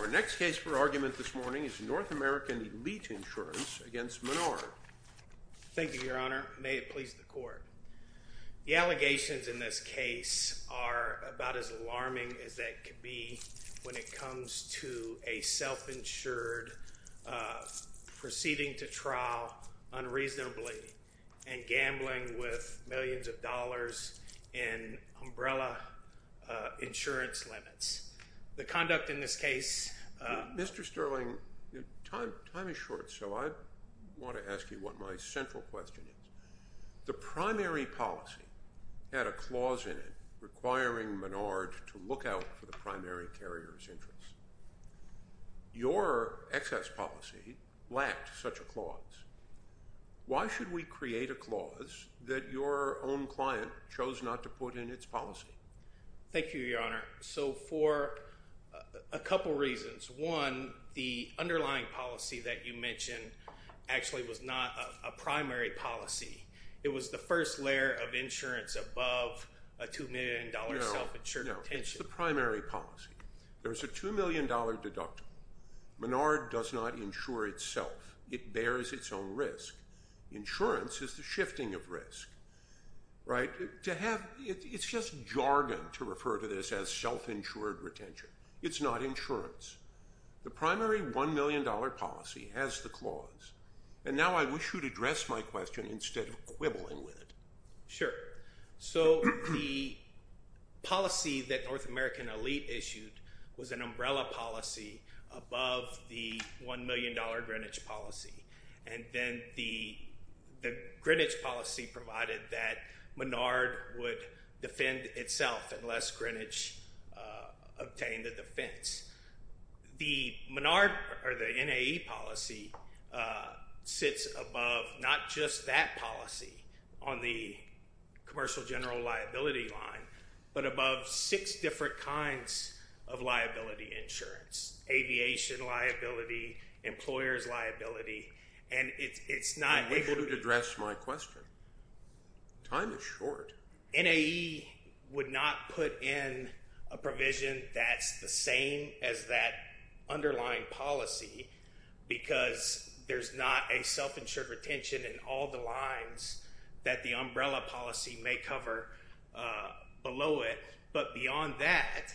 Our next case for argument this morning is North American Elite Insurance v. Menard. Thank you, Your Honor. May it please the Court. The allegations in this case are about as alarming as they can be when it comes to a self-insured proceeding to trial unreasonably and gambling with millions of dollars in umbrella insurance limits. The conduct in this case... Mr. Sterling, time is short, so I want to ask you what my central question is. The primary policy had a clause in it requiring Menard to look out for the primary carrier's interests. Your excess policy lacked such a clause. Why should we create a clause that your own client chose not to put in its policy? Thank you, Your Honor. So for a couple reasons. One, the underlying policy that you mentioned actually was not a primary policy. It was the first layer of insurance above a $2 million self-insured intention. No, no. It's the primary policy. There's a $2 million deductible. Menard does not insure itself. It bears its own risk. Insurance is the shifting of risk. It's just jargon to refer to this as self-insured retention. It's not insurance. The primary $1 million policy has the clause, and now I wish you would address my question instead of quibbling with it. Sure. So the policy that North American Elite issued was an umbrella policy above the $1 million Greenwich policy, and then the Greenwich policy provided that Menard would defend itself unless Greenwich obtained a defense. The Menard or the NAE policy sits above not just that policy on the commercial general liability line, but above six different kinds of liability insurance, aviation liability, employer's liability, and it's not… I'm able to address my question. Time is short. NAE would not put in a provision that's the same as that underlying policy because there's not a self-insured retention in all the lines that the umbrella policy may cover below it, but beyond that,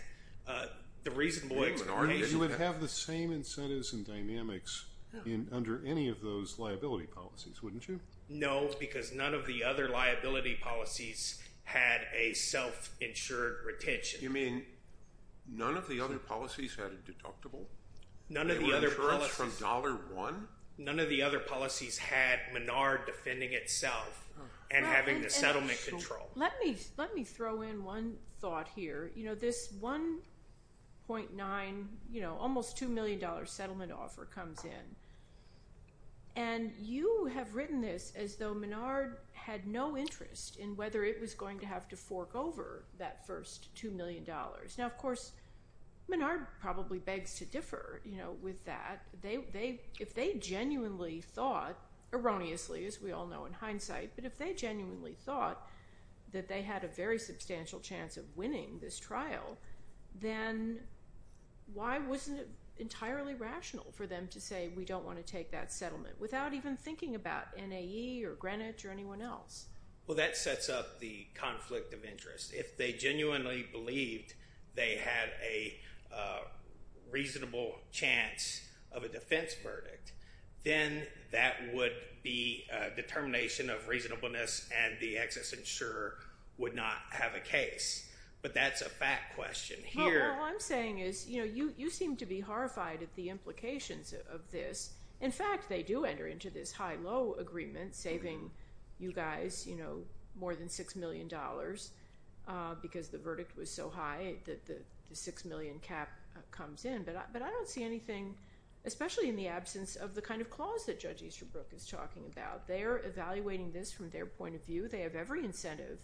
the reasonable explanation… You would have the same incentives and dynamics under any of those liability policies, wouldn't you? No, because none of the other liability policies had a self-insured retention. You mean none of the other policies had a deductible? None of the other policies… Insurance from $1? None of the other policies had Menard defending itself and having the settlement control. Let me throw in one thought here. This $1.9, almost $2 million settlement offer comes in, and you have written this as though Menard had no interest in whether it was going to have to fork over that first $2 million. Now, of course, Menard probably begs to differ with that. If they genuinely thought, erroneously as we all know in hindsight, but if they genuinely thought that they had a very substantial chance of winning this trial, then why wasn't it entirely rational for them to say we don't want to take that settlement without even thinking about NAE or Greenwich or anyone else? Well, that sets up the conflict of interest. If they genuinely believed they had a reasonable chance of a defense verdict, then that would be a determination of reasonableness and the excess insurer would not have a case. But that's a fact question here. Well, all I'm saying is you seem to be horrified at the implications of this. In fact, they do enter into this high-low agreement, saving you guys more than $6 million because the verdict was so high that the $6 million cap comes in. But I don't see anything, especially in the absence of the kind of clause that Judge Easterbrook is talking about. They're evaluating this from their point of view. They have every incentive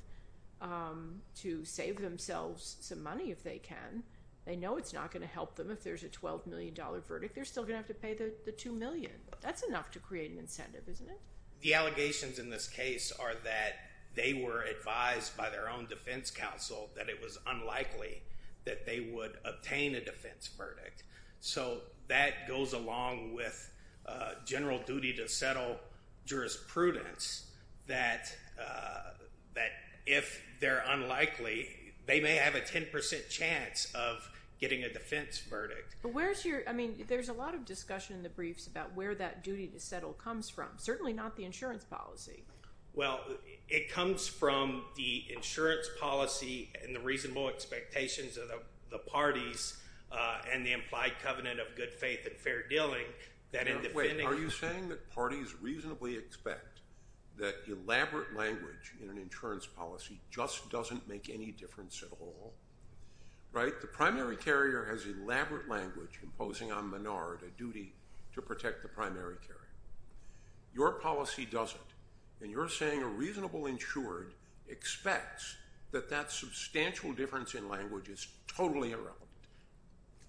to save themselves some money if they can. They know it's not going to help them if there's a $12 million verdict. They're still going to have to pay the $2 million. That's enough to create an incentive, isn't it? The allegations in this case are that they were advised by their own defense counsel that it was unlikely that they would obtain a defense verdict. So that goes along with general duty to settle jurisprudence that if they're unlikely, they may have a 10% chance of getting a defense verdict. But where's your, I mean, there's a lot of discussion in the briefs about where that duty to settle comes from, certainly not the insurance policy. Well, it comes from the insurance policy and the reasonable expectations of the parties and the implied covenant of good faith and fair dealing. Wait, are you saying that parties reasonably expect that elaborate language in an insurance policy just doesn't make any difference at all? Right? The primary carrier has elaborate language imposing on Menard a duty to protect the primary carrier. Your policy doesn't. And you're saying a reasonable insured expects that that substantial difference in language is totally irrelevant.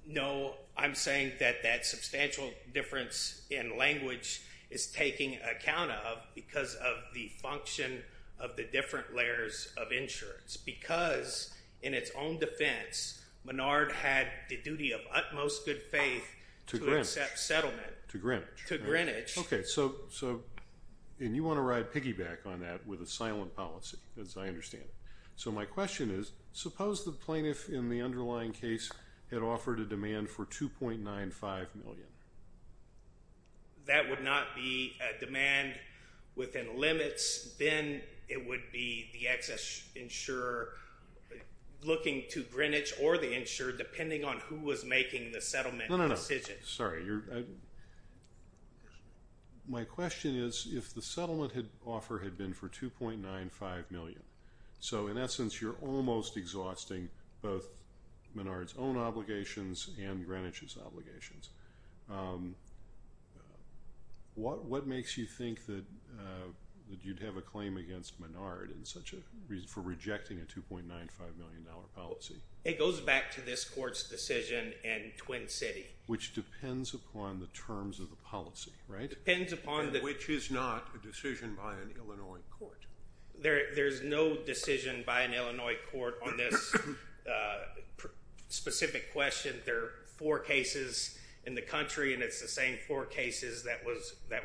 No, I'm saying that that substantial difference in language is taking account of because of the function of the different layers of insurance. Because in its own defense, Menard had the duty of utmost good faith to accept settlement. To Greenwich. To Greenwich. Okay, so, and you want to ride piggyback on that with a silent policy, as I understand it. So my question is, suppose the plaintiff in the underlying case had offered a demand for $2.95 million? That would not be a demand within limits. Then it would be the excess insurer looking to Greenwich or the insured, depending on who was making the settlement decision. Sorry. My question is, if the settlement offer had been for $2.95 million, so in essence you're almost exhausting both Menard's own obligations and Greenwich's obligations. What makes you think that you'd have a claim against Menard for rejecting a $2.95 million policy? It goes back to this court's decision in Twin City. Which depends upon the terms of the policy, right? Depends upon the- Which is not a decision by an Illinois court. There's no decision by an Illinois court on this specific question. There are four cases in the country, and it's the same four cases that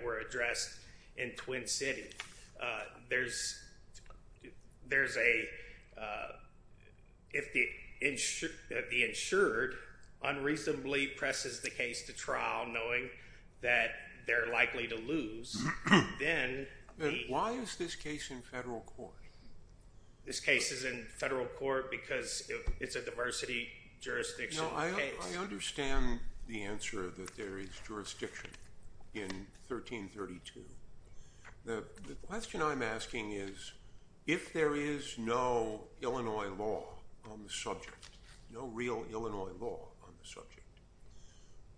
were addressed in Twin City. There's a- if the insured unreasonably presses the case to trial knowing that they're likely to lose, then- Why is this case in federal court? This case is in federal court because it's a diversity jurisdiction case. I understand the answer that there is jurisdiction in 1332. The question I'm asking is, if there is no Illinois law on the subject, no real Illinois law on the subject,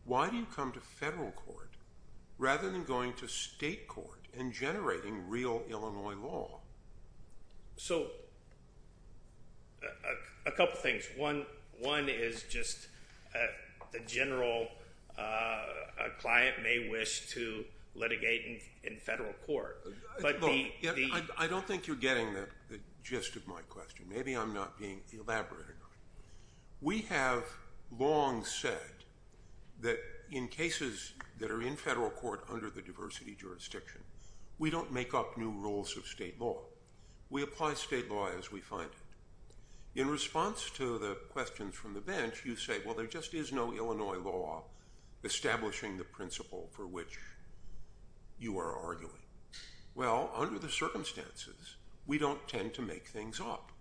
why do you come to federal court rather than going to state court and generating real Illinois law? So, a couple things. One is just the general- a client may wish to litigate in federal court, but the- I don't think you're getting the gist of my question. Maybe I'm not being elaborate enough. We have long said that in cases that are in federal court under the diversity jurisdiction, we don't make up new rules of state law. We apply state law as we find it. In response to the questions from the bench, you say, well, there just is no Illinois law establishing the principle for which you are arguing. Well, under the circumstances, we don't tend to make things up.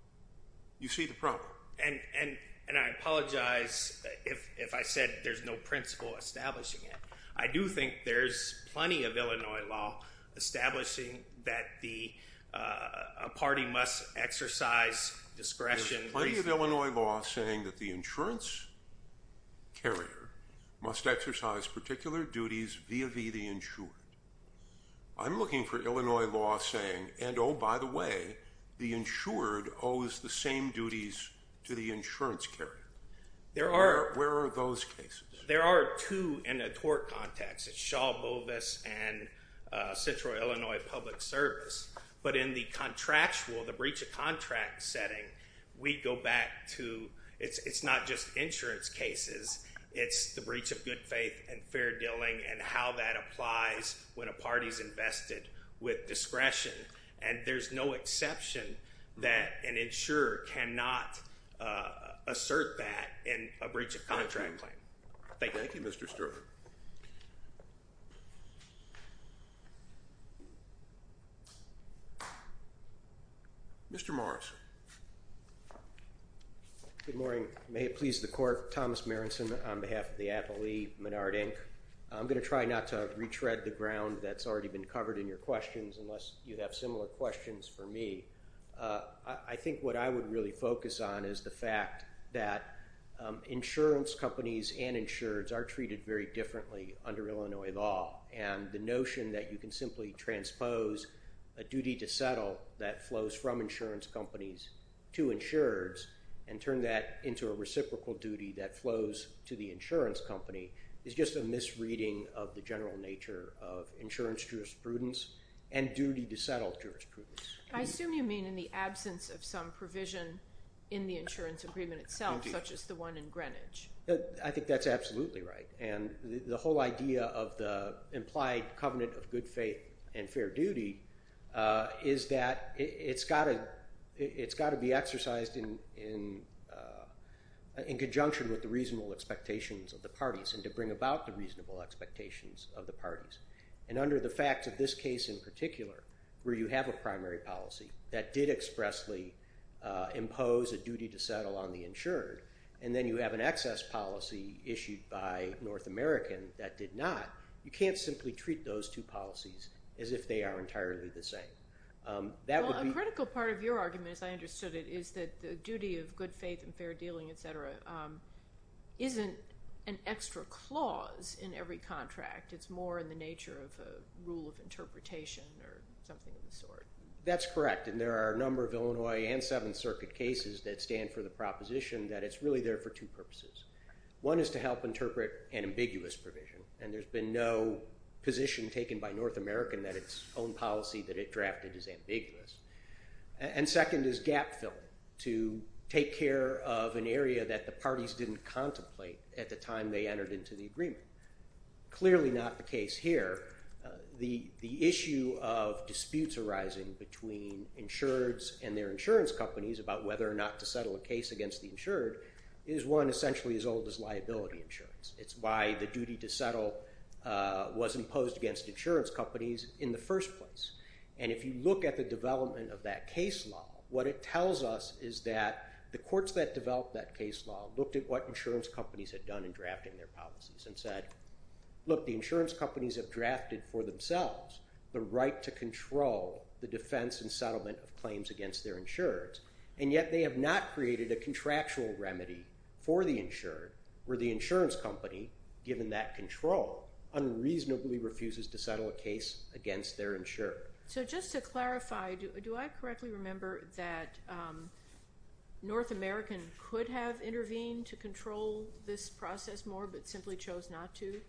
You see the problem. And I apologize if I said there's no principle establishing it. I do think there's plenty of Illinois law establishing that a party must exercise discretion. There's plenty of Illinois law saying that the insurance carrier must exercise particular duties via the insured. I'm looking for Illinois law saying, and oh, by the way, the insured owes the same duties to the insurance carrier. Where are those cases? There are two in a tort context. It's Shaw Bovis and Central Illinois Public Service. But in the contractual, the breach of contract setting, we go back to- it's not just insurance cases. It's the breach of good faith and fair dealing and how that applies when a party's invested with discretion. And there's no exception that an insurer cannot assert that in a breach of contract claim. Thank you. Thank you, Mr. Sterling. Mr. Morris. Good morning. May it please the court. Thomas Marinson on behalf of the Apple E. Menard, Inc. I'm going to try not to retread the ground that's already been covered in your questions unless you have similar questions for me. I think what I would really focus on is the fact that insurance companies and insureds are treated very differently under Illinois law. And the notion that you can simply transpose a duty to settle that flows from insurance companies to insureds and turn that into a reciprocal duty that flows to the insurance company is just a misreading of the general nature of insurance jurisprudence and duty to settle jurisprudence. I assume you mean in the absence of some provision in the insurance agreement itself such as the one in Greenwich. I think that's absolutely right. And the whole idea of the implied covenant of good faith and fair duty is that it's got to be exercised in conjunction with the reasonable expectations of the parties and to bring about the reasonable expectations of the parties. And under the facts of this case in particular where you have a primary policy that did expressly impose a duty to settle on the insured and then you have an excess policy issued by North American that did not, you can't simply treat those two policies as if they are entirely the same. A critical part of your argument as I understood it is that the duty of good faith and fair dealing, etc., isn't an extra clause in every contract. It's more in the nature of a rule of interpretation or something of the sort. That's correct. And there are a number of Illinois and Seventh Circuit cases that stand for the proposition that it's really there for two purposes. One is to help interpret an ambiguous provision. And there's been no position taken by North American that its own policy that it drafted is ambiguous. And second is gap filled to take care of an area that the parties didn't contemplate at the time they entered into the agreement. Clearly not the case here. The issue of disputes arising between insureds and their insurance companies about whether or not to settle a case against the insured is one essentially as old as liability insurance. It's why the duty to settle was imposed against insurance companies in the first place. And if you look at the development of that case law, what it tells us is that the courts that developed that case law looked at what insurance companies had done in drafting their policies and said, look, the insurance companies have drafted for themselves the right to control the defense and settlement of claims against their insureds. And yet they have not created a contractual remedy for the insured where the insurance company, given that control, unreasonably refuses to settle a case against their insured. So just to clarify, do I correctly remember that North American could have intervened to control this process more but simply chose not to?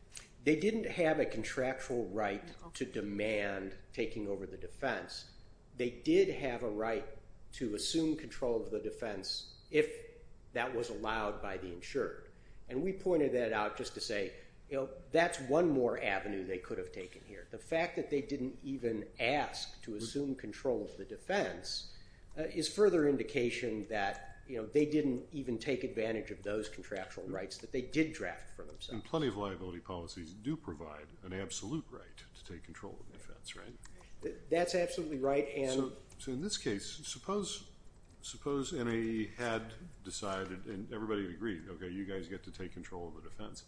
They didn't have a contractual right to demand taking over the defense. They did have a right to assume control of the defense if that was allowed by the insured. And we pointed that out just to say, that's one more avenue they could have taken here. The fact that they didn't even ask to assume control of the defense is further indication that they didn't even take advantage of those contractual rights that they did draft for themselves. And plenty of liability policies do provide an absolute right to take control of the defense, right? That's absolutely right. So in this case, suppose NAE had decided and everybody agreed, okay, you guys get to take control of the defense.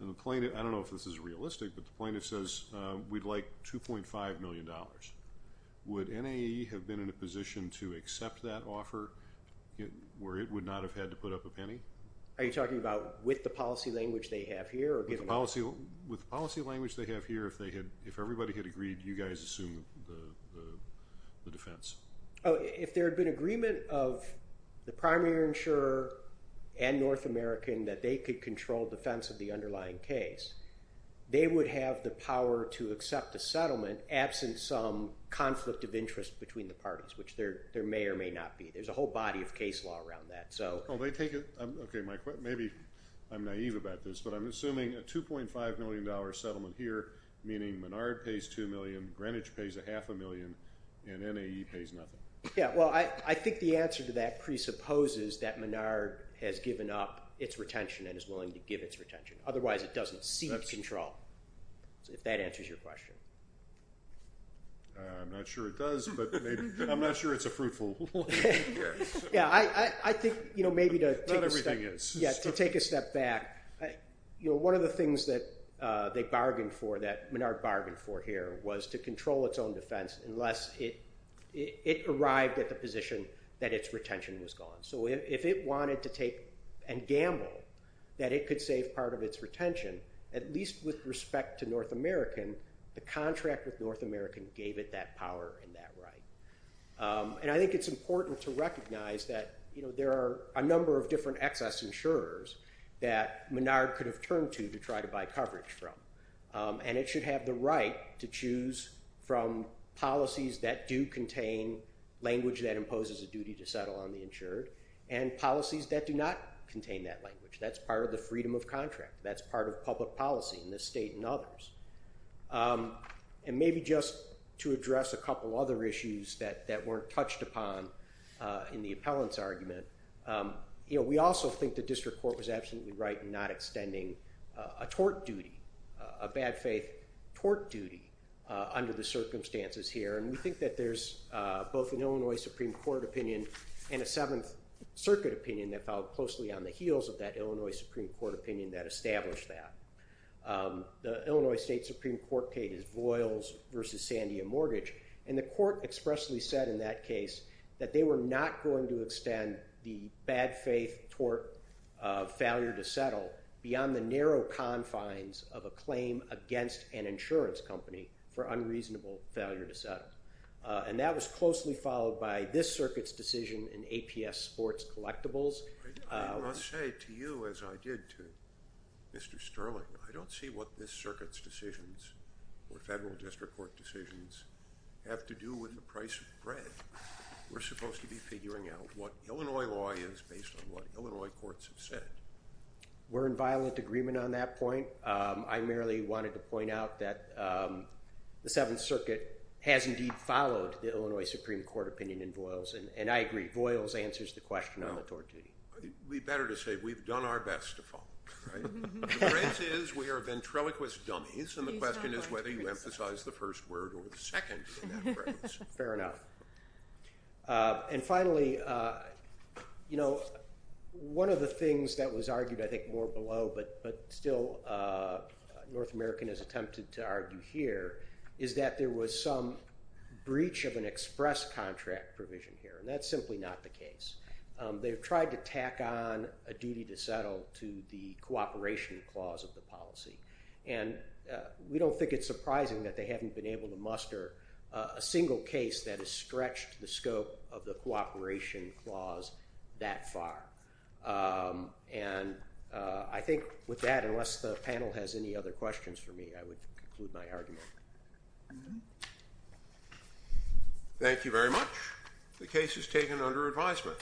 And the plaintiff, I don't know if this is realistic, but the plaintiff says we'd like $2.5 million. Would NAE have been in a position to accept that offer where it would not have had to put up a penny? Are you talking about with the policy language they have here? With the policy language they have here, if everybody had agreed, you guys assume the defense. If there had been agreement of the primary insurer and North American that they could control defense of the underlying case, they would have the power to accept the settlement absent some conflict of interest between the parties, which there may or may not be. There's a whole body of case law around that. Okay, Mike, maybe I'm naive about this, but I'm assuming a $2.5 million settlement here, meaning Menard pays $2 million, Greenwich pays a half a million, and NAE pays nothing. Yeah, well, I think the answer to that presupposes that Menard has given up its retention and is willing to give its retention. Otherwise, it doesn't seek control, if that answers your question. I'm not sure it does, but I'm not sure it's a fruitful one. Yeah, I think maybe to take a step back, one of the things that they bargained for, that Menard bargained for here, was to control its own defense unless it arrived at the position that its retention was gone. So if it wanted to take a gamble that it could save part of its retention, at least with respect to North American, the contract with North American gave it that power and that right. And I think it's important to recognize that there are a number of different excess insurers that Menard could have turned to to try to buy coverage from, and it should have the right to choose from policies that do contain language that imposes a duty to settle on the insured and policies that do not contain that language. That's part of the freedom of contract. That's part of public policy in this state and others. And maybe just to address a couple other issues that weren't touched upon in the appellant's argument, we also think the district court was absolutely right in not extending a tort duty, a bad faith tort duty under the circumstances here. And we think that there's both an Illinois Supreme Court opinion and a Seventh Circuit opinion that fell closely on the heels of that Illinois Supreme Court opinion that established that. The Illinois State Supreme Court case is Voyles v. Sandia Mortgage, and the court expressly said in that case that they were not going to extend the bad faith tort failure to settle And that was closely followed by this circuit's decision in APS sports collectibles. I must say to you, as I did to Mr. Sterling, I don't see what this circuit's decisions or federal district court decisions have to do with the price of bread. We're supposed to be figuring out what Illinois law is based on what Illinois courts have said. We're in violent agreement on that point. I merely wanted to point out that the Seventh Circuit has indeed followed the Illinois Supreme Court opinion in Voyles, and I agree, Voyles answers the question on the tort duty. We'd better just say we've done our best to follow. The difference is we are ventriloquist dummies, and the question is whether you emphasize the first word or the second in that reference. Fair enough. And finally, you know, one of the things that was argued, I think, more below, but still North American has attempted to argue here, is that there was some breach of an express contract provision here, and that's simply not the case. They've tried to tack on a duty to settle to the cooperation clause of the policy, and we don't think it's surprising that they haven't been able to muster a single case that has stretched the scope of the cooperation clause that far. And I think with that, unless the panel has any other questions for me, I would conclude my argument. Thank you very much. The case is taken under advisement.